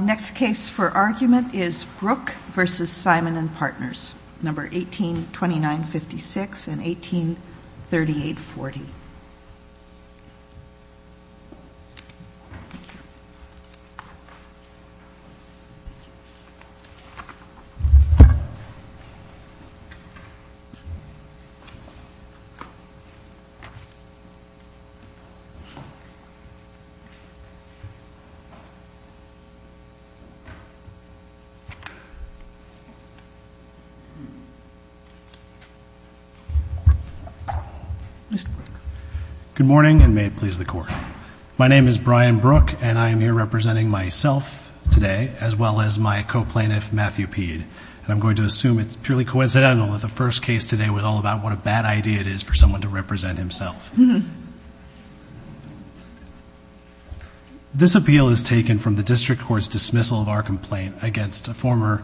Next case for argument is Brooke v. Simon & Partners 1829-56 and 1838-40. Mr. Brooke. Good morning, and may it please the Court. My name is Brian Brooke, and I am here representing myself today, as well as my co-plaintiff, Matthew Peed. I'm going to assume it's purely coincidental that the first case today was all about what a bad idea it is for someone to represent himself. This appeal is taken from the District Court's dismissal of our complaint against a former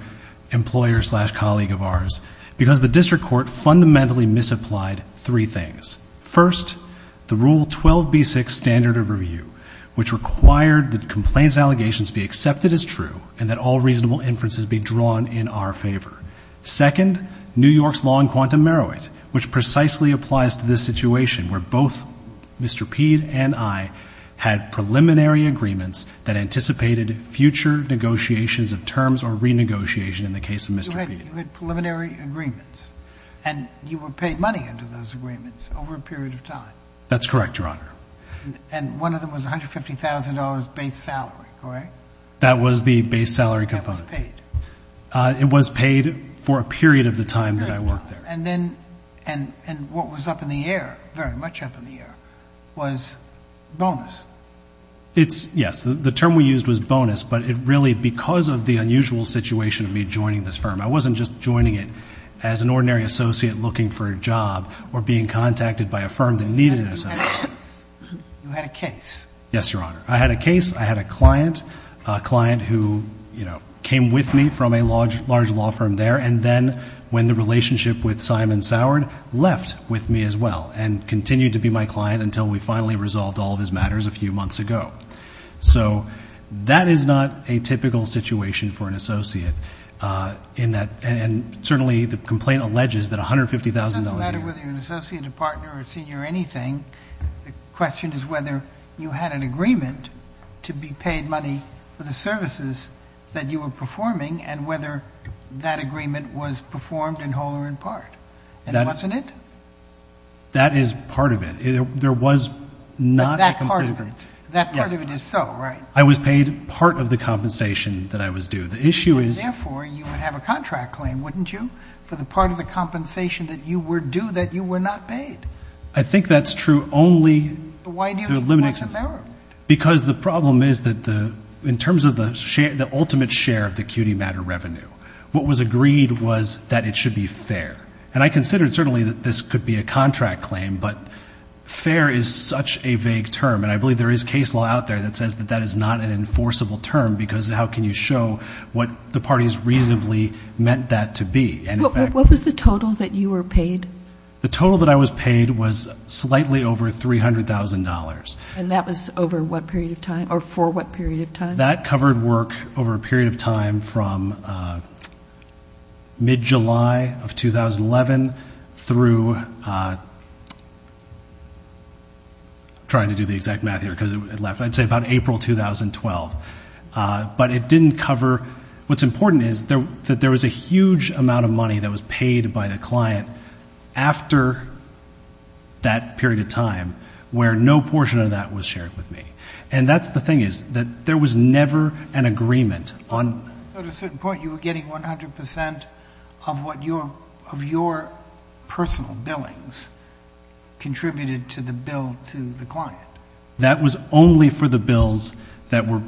employer-slash-colleague of ours, because the District Court fundamentally misapplied three things. First, the Rule 12b-6 standard of review, which required that complaints allegations be accepted as true and that all reasonable inferences be drawn in our favor. Second, New York's law on quantum meroit, which precisely applies to this situation, where both Mr. Peed and I had preliminary agreements that anticipated future negotiations of terms or renegotiation in the case of Mr. Peed. You had preliminary agreements, and you were paid money under those agreements over a period of time? That's correct, Your Honor. And one of them was $150,000 base salary, correct? That was the base salary component. And that was paid? It was paid for a period of the time that I worked there. And then, and what was up in the air, very much up in the air, was bonus? It's, yes, the term we used was bonus, but it really, because of the unusual situation of me joining this firm, I wasn't just joining it as an ordinary associate looking for a job or being contacted by a firm that needed an associate. You had a case? You had a case? Yes, Your Honor. I had a case, I had a client, a client who, you know, came with me from a large law firm there, and then, when the relationship with Simon Sourd left with me as well, and continued to be my client until we finally resolved all of his matters a few months ago. So that is not a typical situation for an associate, in that, and certainly the complaint alleges that $150,000. It doesn't matter whether you're an associate, a partner, a senior, anything, the question is whether you had an agreement to be paid money for the services that you were performing, and whether that agreement was performed in whole or in part, and wasn't it? That is part of it. There was not a complete agreement. But that part of it, that part of it is so, right? I was paid part of the compensation that I was due. The issue is— Therefore, you would have a contract claim, wouldn't you, for the part of the compensation that you were due that you were not paid? I think that's true only— Why do you think that's a matter of— Because the problem is that the, in terms of the ultimate share of the acuity matter revenue, what was agreed was that it should be fair. And I considered, certainly, that this could be a contract claim, but fair is such a vague term, and I believe there is case law out there that says that that is not an enforceable term, because how can you show what the parties reasonably meant that to be? What was the total that you were paid? The total that I was paid was slightly over $300,000. And that was over what period of time, or for what period of time? That covered work over a period of time from mid-July of 2011 through— I'm trying to do the exact math here, because it left— I'd say about April 2012. But it didn't cover— What's important is that there was a huge amount of money that was paid by the client after that period of time, where no portion of that was shared with me. And that's the thing, is that there was never an agreement on— So at a certain point, you were getting 100 percent of what your—of your personal billings contributed to the bill to the client. That was only for the bills that were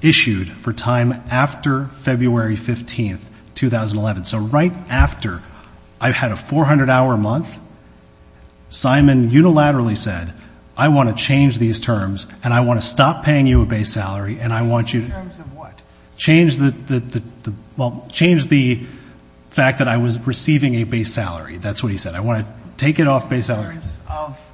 issued for time after February 15, 2011. So right after I had a 400-hour month, Simon unilaterally said, I want to change these terms, and I want to stop paying you a base salary, and I want you to— In terms of what? Change the—well, change the fact that I was receiving a base salary. That's what he said. I want to take it off base salary. In terms of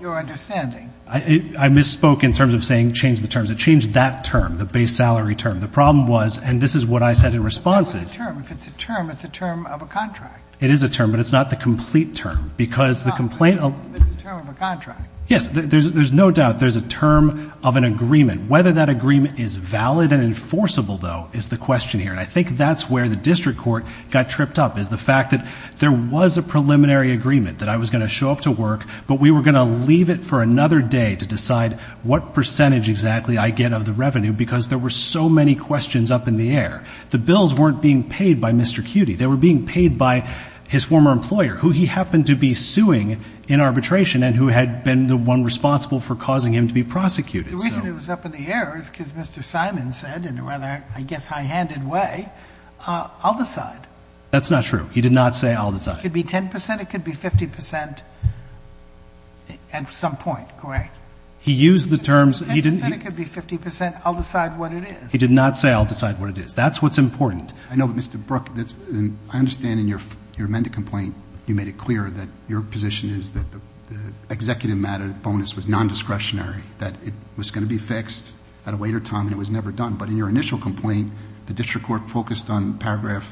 your understanding. Well, I misspoke in terms of saying change the terms. It changed that term, the base salary term. The problem was, and this is what I said in response is— That was a term. If it's a term, it's a term of a contract. It is a term, but it's not the complete term. Because the complaint— It's a term of a contract. Yes, there's no doubt there's a term of an agreement. Whether that agreement is valid and enforceable, though, is the question here. And I think that's where the district court got tripped up, is the fact that there was a preliminary agreement that I was going to show up to work, but we were going to leave it for another day to decide what percentage exactly I get of the revenue because there were so many questions up in the air. The bills weren't being paid by Mr. Cutie. They were being paid by his former employer, who he happened to be suing in arbitration and who had been the one responsible for causing him to be prosecuted. The reason it was up in the air is because Mr. Simon said in a rather, I guess, high-handed way, I'll decide. That's not true. He did not say I'll decide. It could be 10 percent. It could be 50 percent at some point, correct? He used the terms— It could be 10 percent. It could be 50 percent. I'll decide what it is. He did not say I'll decide what it is. That's what's important. I know, but Mr. Brook, I understand in your amended complaint you made it clear that your position is that the executive matter bonus was nondiscretionary, that it was going to be fixed at a later time and it was never done. But in your initial complaint, the district court focused on paragraph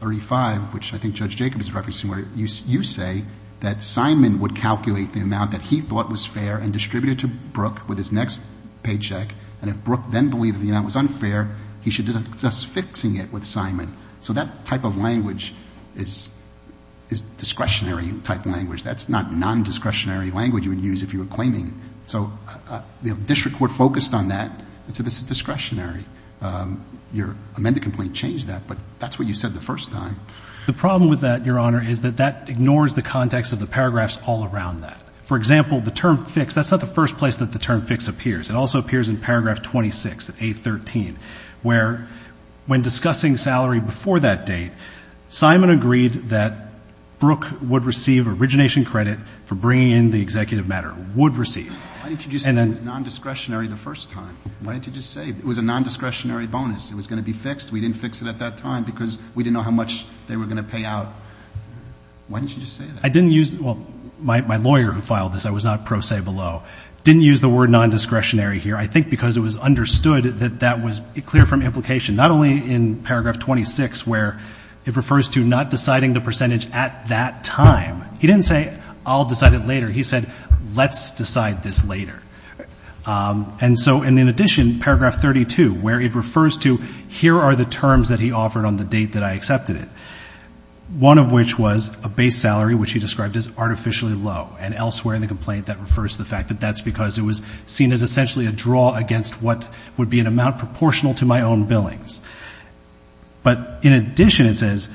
35, which I think Judge Jacob is referencing, where you say that Simon would calculate the amount that he thought was fair and distribute it to Brook with his next paycheck, and if Brook then believed the amount was unfair, he should discuss fixing it with Simon. So that type of language is discretionary type language. That's not nondiscretionary language you would use if you were claiming. So the district court focused on that and said this is discretionary. Your amended complaint changed that, but that's what you said the first time. The problem with that, Your Honor, is that that ignores the context of the paragraphs all around that. For example, the term fix, that's not the first place that the term fix appears. It also appears in paragraph 26 of A13, where when discussing salary before that date, Simon agreed that Brook would receive origination credit for bringing in the executive matter. Would receive. Why didn't you just say it was nondiscretionary the first time? Why didn't you just say it was a nondiscretionary bonus? It was going to be fixed. We didn't fix it at that time because we didn't know how much they were going to pay out. Why didn't you just say that? I didn't use the word ñ well, my lawyer who filed this, I was not pro se below. Didn't use the word nondiscretionary here. I think because it was understood that that was clear from implication, not only in paragraph 26 where it refers to not deciding the percentage at that time. He didn't say I'll decide it later. He said let's decide this later. And so in addition, paragraph 32, where it refers to here are the terms that he offered on the date that I accepted it, one of which was a base salary, which he described as artificially low, and elsewhere in the complaint that refers to the fact that that's because it was seen as essentially a draw against what would be an amount proportional to my own billings. But in addition, it says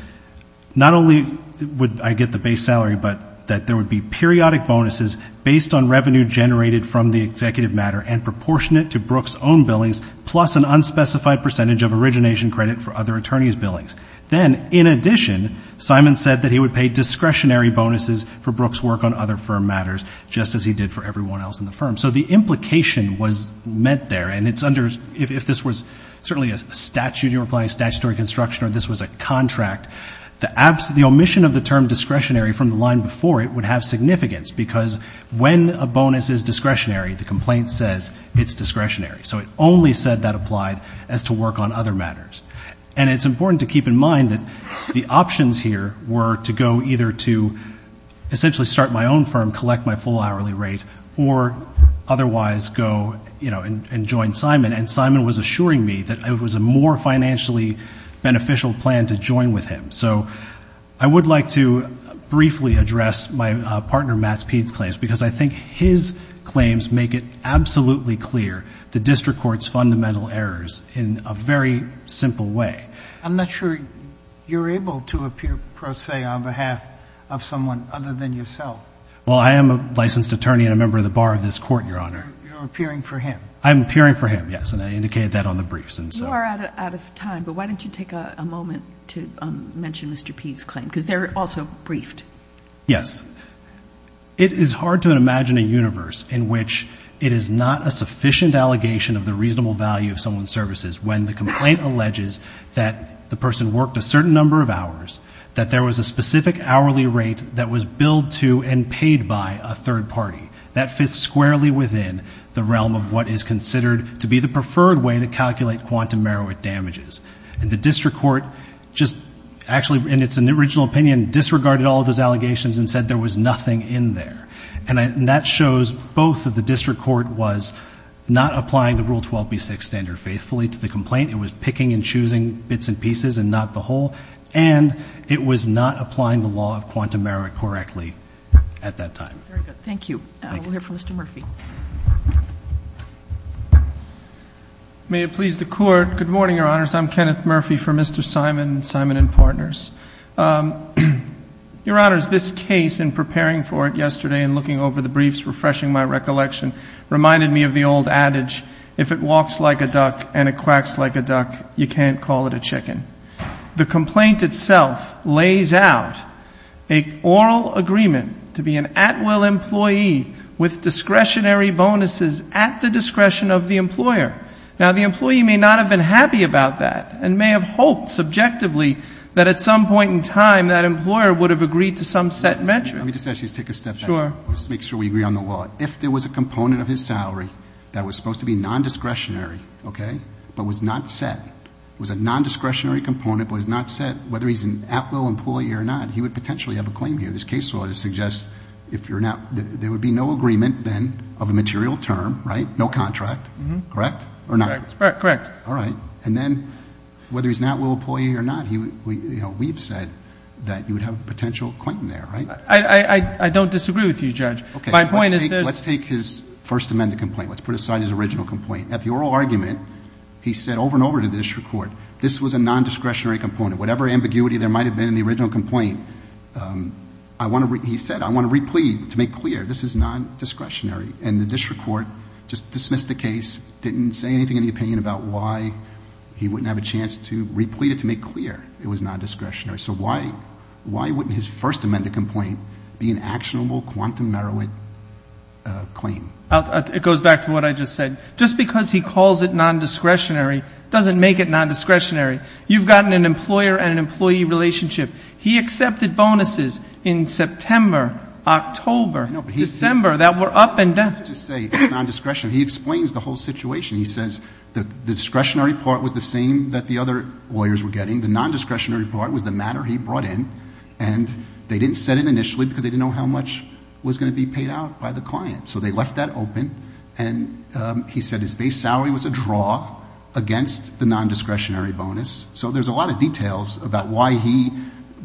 not only would I get the base salary, but that there would be periodic bonuses based on revenue generated from the executive matter and proportionate to Brooks' own billings plus an unspecified percentage of origination credit for other attorneys' billings. Then, in addition, Simon said that he would pay discretionary bonuses for Brooks' work on other firm matters, just as he did for everyone else in the firm. So the implication was meant there. And if this was certainly a statute you were applying, statutory construction, or this was a contract, the omission of the term discretionary from the line before it would have significance, because when a bonus is discretionary, the complaint says it's discretionary. So it only said that applied as to work on other matters. And it's important to keep in mind that the options here were to go either to essentially start my own firm, collect my full hourly rate, or otherwise go, you know, and join Simon. And Simon was assuring me that it was a more financially beneficial plan to join with him. So I would like to briefly address my partner, Matt Speed's claims, because I think his claims make it absolutely clear the district court's fundamental errors in a very simple way. I'm not sure you're able to appear pro se on behalf of someone other than yourself. Well, I am a licensed attorney and a member of the bar of this Court, Your Honor. You're appearing for him. I'm appearing for him, yes, and I indicated that on the briefs. You are out of time, but why don't you take a moment to mention Mr. Speed's claim, because they're also briefed. Yes. It is hard to imagine a universe in which it is not a sufficient allegation of the reasonable value of someone's services when the complaint alleges that the person worked a certain number of hours, that there was a specific hourly rate that was billed to and paid by a third party. That fits squarely within the realm of what is considered to be the preferred way to calculate quantum merit damages. And the district court just actually, in its original opinion, disregarded all of those allegations and said there was nothing in there. And that shows both that the district court was not applying the Rule 12b-6 standard faithfully to the complaint. It was picking and choosing bits and pieces and not the whole, and it was not applying the law of quantum merit correctly at that time. Very good. Thank you. Thank you. We'll hear from Mr. Murphy. May it please the Court. Good morning, Your Honors. I'm Kenneth Murphy for Mr. Simon and Simon and Partners. Your Honors, this case, in preparing for it yesterday and looking over the briefs, refreshing my recollection, reminded me of the old adage, if it walks like a duck and it quacks like a duck, you can't call it a chicken. The complaint itself lays out an oral agreement to be an at-will employee with discretionary bonuses at the discretion of the employer. Now, the employee may not have been happy about that and may have hoped subjectively that at some point in time that employer would have agreed to some set measure. Let me just ask you to take a step back. Sure. Let's make sure we agree on the law. If there was a component of his salary that was supposed to be nondiscretionary, okay, but was not set, was a nondiscretionary component but was not set, whether he's an at-will employee or not, he would potentially have a claim here. This case law suggests if you're not ‑‑ there would be no agreement then of a material term, right, no contract, correct? Correct. All right. And then whether he's an at-will employee or not, we've said that you would have a potential claim there, right? I don't disagree with you, Judge. Okay. My point is this. Let's take his first amended complaint. Let's put aside his original complaint. At the oral argument, he said over and over to the district court, this was a nondiscretionary component. Whatever ambiguity there might have been in the original complaint, he said, I want to replead to make clear this is nondiscretionary. And the district court just dismissed the case, didn't say anything in the opinion about why he wouldn't have a chance to replead it to make clear it was nondiscretionary. So why wouldn't his first amended complaint be an actionable quantum merit claim? It goes back to what I just said. Just because he calls it nondiscretionary doesn't make it nondiscretionary. You've gotten an employer and an employee relationship. He accepted bonuses in September, October, December that were up and down. I just wanted to say it's nondiscretionary. He explains the whole situation. He says the discretionary part was the same that the other lawyers were getting. The nondiscretionary part was the matter he brought in. And they didn't set it initially because they didn't know how much was going to be paid out by the client. So they left that open. And he said his base salary was a draw against the nondiscretionary bonus. So there's a lot of details about why he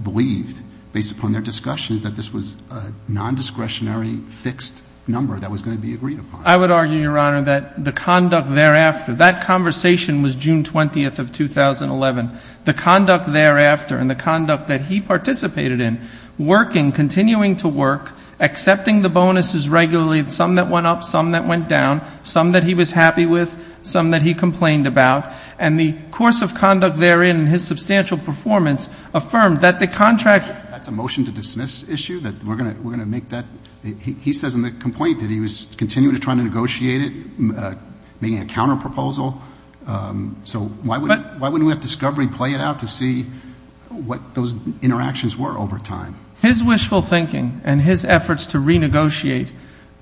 believed, based upon their discussions, that this was a nondiscretionary fixed number that was going to be agreed upon. I would argue, Your Honor, that the conduct thereafter, that conversation was June 20th of 2011. The conduct thereafter and the conduct that he participated in, working, continuing to work, accepting the bonuses regularly, some that went up, some that went down, some that he was happy with, some that he complained about. And the course of conduct therein and his substantial performance affirmed that the contract. That's a motion to dismiss issue, that we're going to make that. He says in the complaint that he was continuing to try to negotiate it, making a counterproposal. So why wouldn't we have discovery play it out to see what those interactions were over time? His wishful thinking and his efforts to renegotiate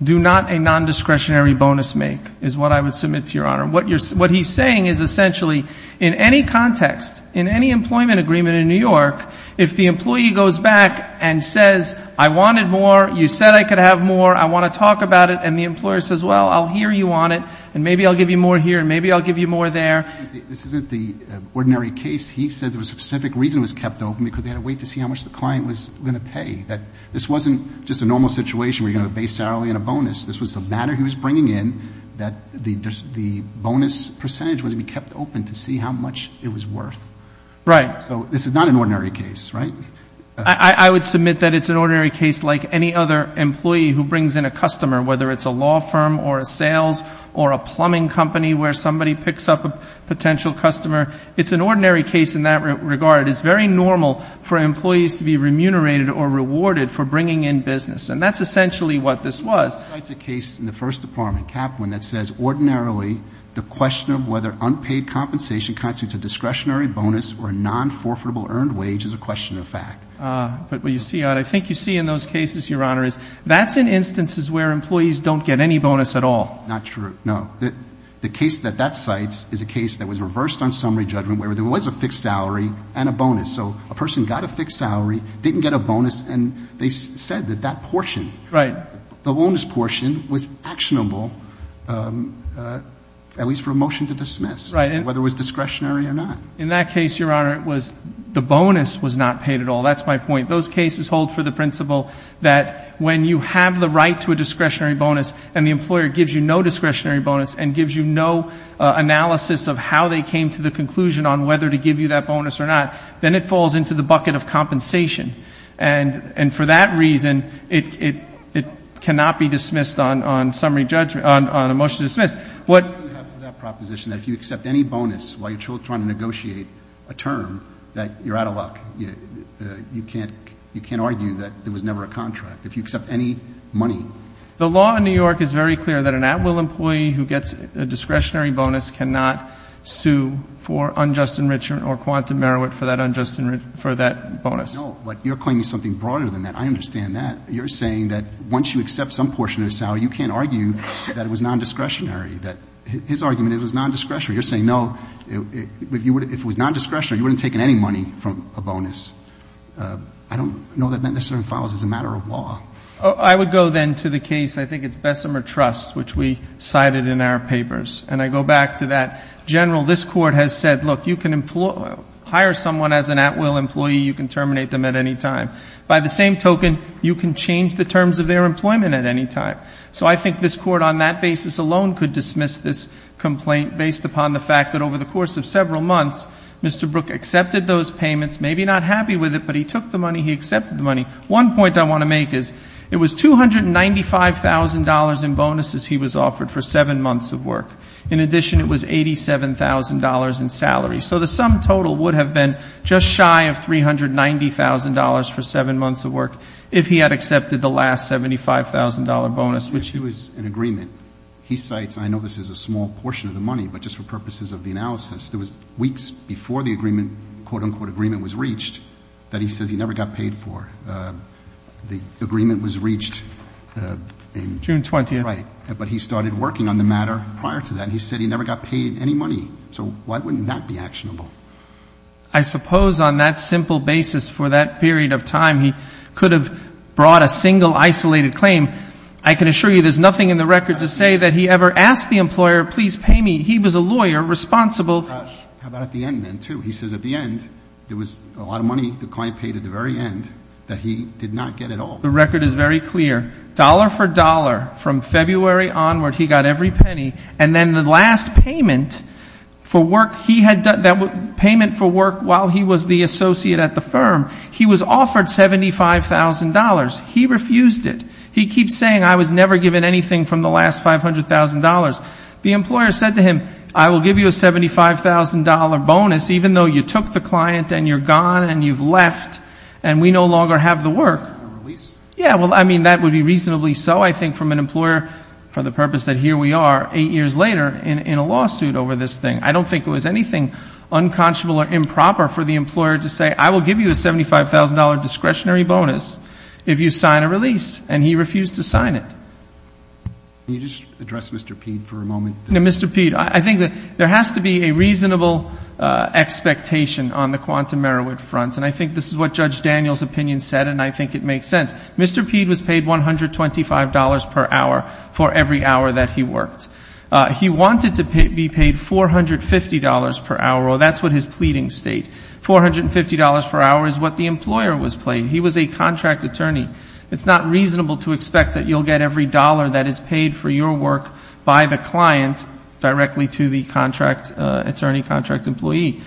do not a nondiscretionary bonus make, is what I would submit to Your Honor. What he's saying is essentially, in any context, in any employment agreement in New York, if the employee goes back and says, I wanted more, you said I could have more, I want to talk about it, and the employer says, well, I'll hear you on it, and maybe I'll give you more here and maybe I'll give you more there. This isn't the ordinary case. He says there was a specific reason it was kept open, because they had to wait to see how much the client was going to pay. This wasn't just a normal situation where you're going to have a base hourly and a bonus. This was the matter he was bringing in that the bonus percentage was to be kept open to see how much it was worth. Right. So this is not an ordinary case, right? I would submit that it's an ordinary case like any other employee who brings in a customer, whether it's a law firm or a sales or a plumbing company where somebody picks up a potential customer. It's an ordinary case in that regard. It's very normal for employees to be remunerated or rewarded for bringing in business, and that's essentially what this was. That cites a case in the first department, Kaplan, that says ordinarily the question of whether unpaid compensation constitutes a discretionary bonus or a non-forfeitable earned wage is a question of fact. But what you see, I think you see in those cases, Your Honor, is that's in instances where employees don't get any bonus at all. Not true. No. The case that that cites is a case that was reversed on summary judgment where there was a fixed salary and a bonus. So a person got a fixed salary, didn't get a bonus, and they said that that portion. Right. The bonus portion was actionable, at least for a motion to dismiss. Right. Whether it was discretionary or not. In that case, Your Honor, it was the bonus was not paid at all. That's my point. Those cases hold for the principle that when you have the right to a discretionary bonus and the employer gives you no discretionary bonus and gives you no analysis of how they came to the conclusion on whether to give you that bonus or not, then it falls into the bucket of compensation. And for that reason, it cannot be dismissed on summary judgment, on a motion to dismiss. What do you have for that proposition that if you accept any bonus while you're trying to negotiate a term that you're out of luck? You can't argue that there was never a contract. If you accept any money. The law in New York is very clear that an at-will employee who gets a discretionary bonus cannot sue for unjust enrichment or quantum merit for that unjust enrichment, for that bonus. No, but you're claiming something broader than that. I understand that. You're saying that once you accept some portion of the salary, you can't argue that it was non-discretionary, that his argument is it was non-discretionary. You're saying, no, if it was non-discretionary, you wouldn't have taken any money from a bonus. I don't know that that necessarily follows as a matter of law. I would go then to the case, I think it's Bessemer Trust, which we cited in our papers. And I go back to that. General, this Court has said, look, you can hire someone as an at-will employee. You can terminate them at any time. By the same token, you can change the terms of their employment at any time. So I think this Court on that basis alone could dismiss this complaint based upon the fact that over the course of several months, Mr. Brook accepted those payments, maybe not happy with it, but he took the money, he accepted the money. One point I want to make is it was $295,000 in bonuses he was offered for seven months of work. In addition, it was $87,000 in salary. So the sum total would have been just shy of $390,000 for seven months of work if he had accepted the last $75,000 bonus, which he was in agreement. He cites, and I know this is a small portion of the money, but just for purposes of the analysis, there was weeks before the agreement, quote, unquote, agreement was reached, that he says he never got paid for. The agreement was reached in June 20th. Right. But he started working on the matter prior to that, and he said he never got paid any money. So why wouldn't that be actionable? I suppose on that simple basis for that period of time, he could have brought a single isolated claim. I can assure you there's nothing in the record to say that he ever asked the employer, please pay me. He was a lawyer responsible. How about at the end then, too? He says at the end there was a lot of money the client paid at the very end that he did not get at all. The record is very clear. Dollar for dollar from February onward, he got every penny. And then the last payment for work he had done, payment for work while he was the associate at the firm, he was offered $75,000. He refused it. He keeps saying I was never given anything from the last $500,000. The employer said to him, I will give you a $75,000 bonus even though you took the client and you're gone and you've left and we no longer have the work. Yeah, well, I mean, that would be reasonably so, I think, from an employer, for the purpose that here we are eight years later in a lawsuit over this thing. I don't think it was anything unconscionable or improper for the employer to say, I will give you a $75,000 discretionary bonus if you sign a release. And he refused to sign it. Can you just address Mr. Peed for a moment? Mr. Peed, I think that there has to be a reasonable expectation on the quantum Merowith front. And I think this is what Judge Daniels' opinion said, and I think it makes sense. Mr. Peed was paid $125 per hour for every hour that he worked. He wanted to be paid $450 per hour, or that's what his pleadings state. $450 per hour is what the employer was paid. He was a contract attorney. It's not reasonable to expect that you'll get every dollar that is paid for your work by the client directly to the contract attorney, contract employee.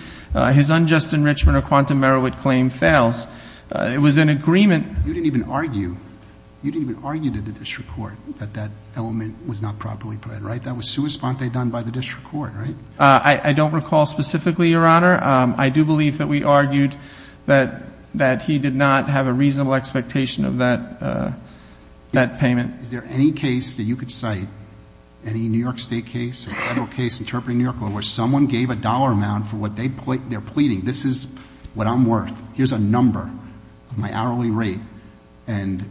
His unjust enrichment or quantum Merowith claim fails. It was an agreement. You didn't even argue to the district court that that element was not properly put in, right? That was sua sponte done by the district court, right? I don't recall specifically, Your Honor. I do believe that we argued that he did not have a reasonable expectation of that payment. Is there any case that you could cite, any New York State case, a federal case interpreting New York law where someone gave a dollar amount for what they're pleading? This is what I'm worth. Here's a number of my hourly rate and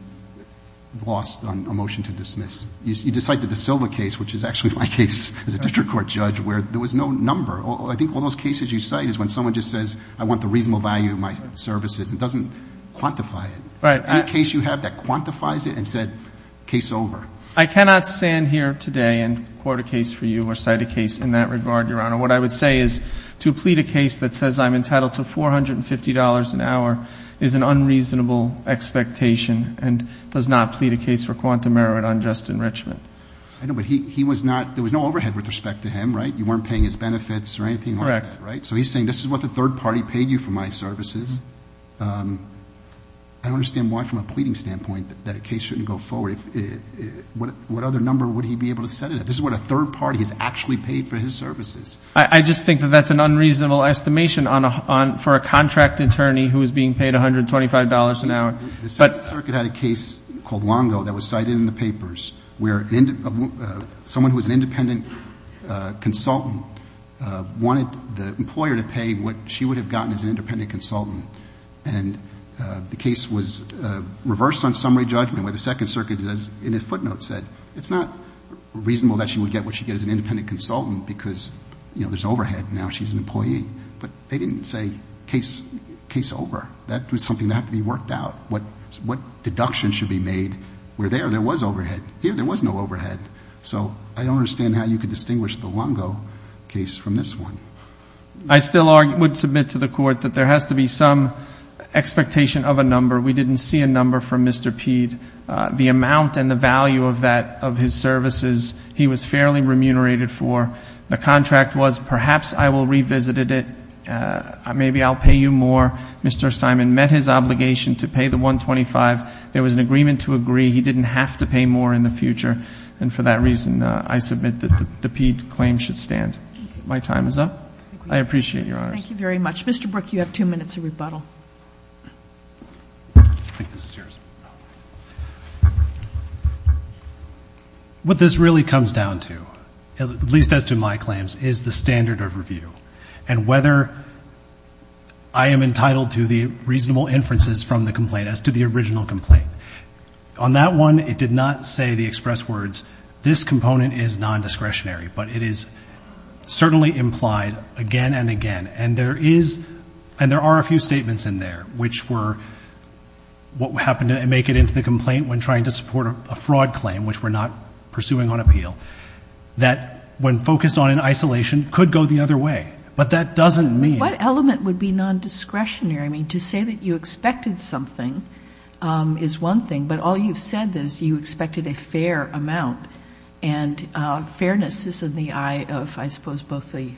lost on a motion to dismiss. You just cited the Silva case, which is actually my case as a district court judge, where there was no number. I think one of those cases you cite is when someone just says I want the reasonable value of my services and doesn't quantify it. Any case you have that quantifies it and said case over? I cannot stand here today and quote a case for you or cite a case in that regard, Your Honor. What I would say is to plead a case that says I'm entitled to $450 an hour is an unreasonable expectation and does not plead a case for quantum Merowith on Justin Richmond. I know, but he was not, there was no overhead with respect to him, right? You weren't paying his benefits or anything like that, right? Correct. So he's saying this is what the third party paid you for my services. I don't understand why from a pleading standpoint that a case shouldn't go forward. What other number would he be able to set it at? This is what a third party has actually paid for his services. I just think that that's an unreasonable estimation for a contract attorney who is being paid $125 an hour. The Second Circuit had a case called Longo that was cited in the papers where someone who was an independent consultant wanted the employer to pay what she would have gotten as an independent consultant. And the case was reversed on summary judgment where the Second Circuit in a footnote said it's not reasonable that she would get what she gets as an independent consultant because, you know, there's overhead. Now she's an employee. But they didn't say case over. That was something that had to be worked out. What deduction should be made where there, there was overhead. Here there was no overhead. So I don't understand how you could distinguish the Longo case from this one. I still would submit to the Court that there has to be some expectation of a number. We didn't see a number from Mr. Peed. The amount and the value of that, of his services, he was fairly remunerated for. The contract was perhaps I will revisit it. Maybe I'll pay you more. Mr. Simon met his obligation to pay the $125. There was an agreement to agree. He didn't have to pay more in the future. And for that reason, I submit that the Peed claim should stand. My time is up. I appreciate your honors. Thank you very much. Mr. Brook, you have two minutes of rebuttal. What this really comes down to, at least as to my claims, is the standard of review and whether I am entitled to the reasonable inferences from the complaint as to the original complaint. On that one, it did not say the express words, this component is non-discretionary. But it is certainly implied again and again. And there is, and there are a few statements in there which were what happened to make it into the complaint when trying to support a fraud claim, which we're not pursuing on appeal, that when focused on in isolation could go the other way. But that doesn't mean. What element would be non-discretionary? To say that you expected something is one thing, but all you've said is you expected a fair amount. And fairness is in the eye of, I suppose, both the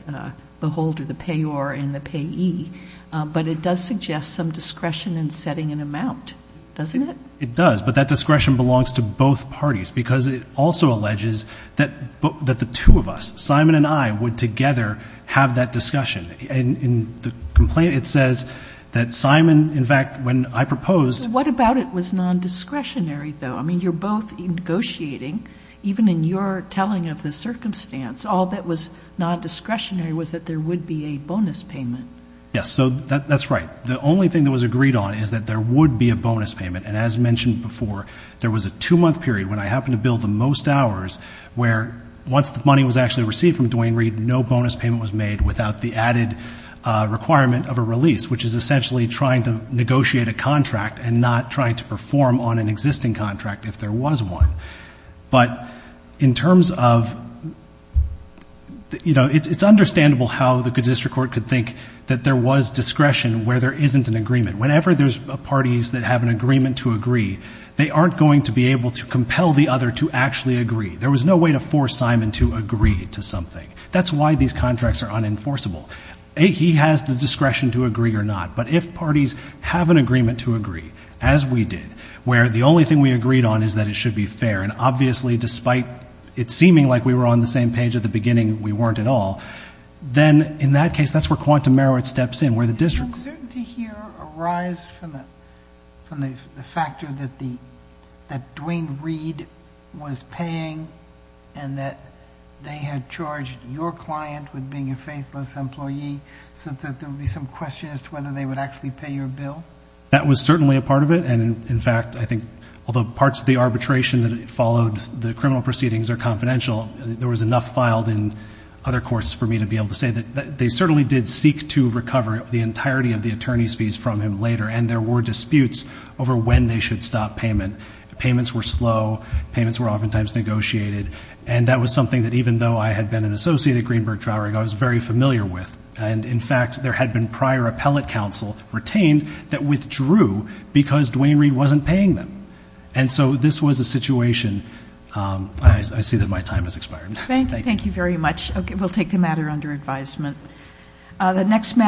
beholder, the payor and the payee. But it does suggest some discretion in setting an amount, doesn't it? It does. But that discretion belongs to both parties because it also alleges that the two of us, Simon and I, would together have that discussion. In the complaint, it says that Simon, in fact, when I proposed. What about it was non-discretionary, though? I mean, you're both negotiating, even in your telling of the circumstance. All that was non-discretionary was that there would be a bonus payment. Yes. So that's right. The only thing that was agreed on is that there would be a bonus payment. And as mentioned before, there was a two-month period when I happened to bill the most hours where once the money was actually received from Duane Reade, no bonus payment was made without the added requirement of a release, which is essentially trying to negotiate a contract and not trying to perform on an existing contract if there was one. But in terms of, you know, it's understandable how the good district court could think that there was discretion where there isn't an agreement. Whenever there's parties that have an agreement to agree, they aren't going to be able to compel the other to actually agree. There was no way to force Simon to agree to something. That's why these contracts are unenforceable. A, he has the discretion to agree or not. But if parties have an agreement to agree, as we did, where the only thing we agreed on is that it should be fair, and obviously despite it seeming like we were on the same page at the beginning, we weren't at all, then in that case, that's where quantum merit steps in, where the district's — From the factor that Dwayne Reed was paying and that they had charged your client with being a faithless employee so that there would be some question as to whether they would actually pay your bill? That was certainly a part of it, and in fact, I think, although parts of the arbitration that followed the criminal proceedings are confidential, there was enough filed in other courts for me to be able to say that they certainly did seek to recover the entirety of the attorney's fees from him later and there were disputes over when they should stop payment. Payments were slow. Payments were oftentimes negotiated, and that was something that even though I had been an associate at Greenberg Trowering, I was very familiar with. And in fact, there had been prior appellate counsel retained that withdrew because Dwayne Reed wasn't paying them. And so this was a situation. I see that my time has expired. Thank you. Thank you very much. We'll take the matter under advisement.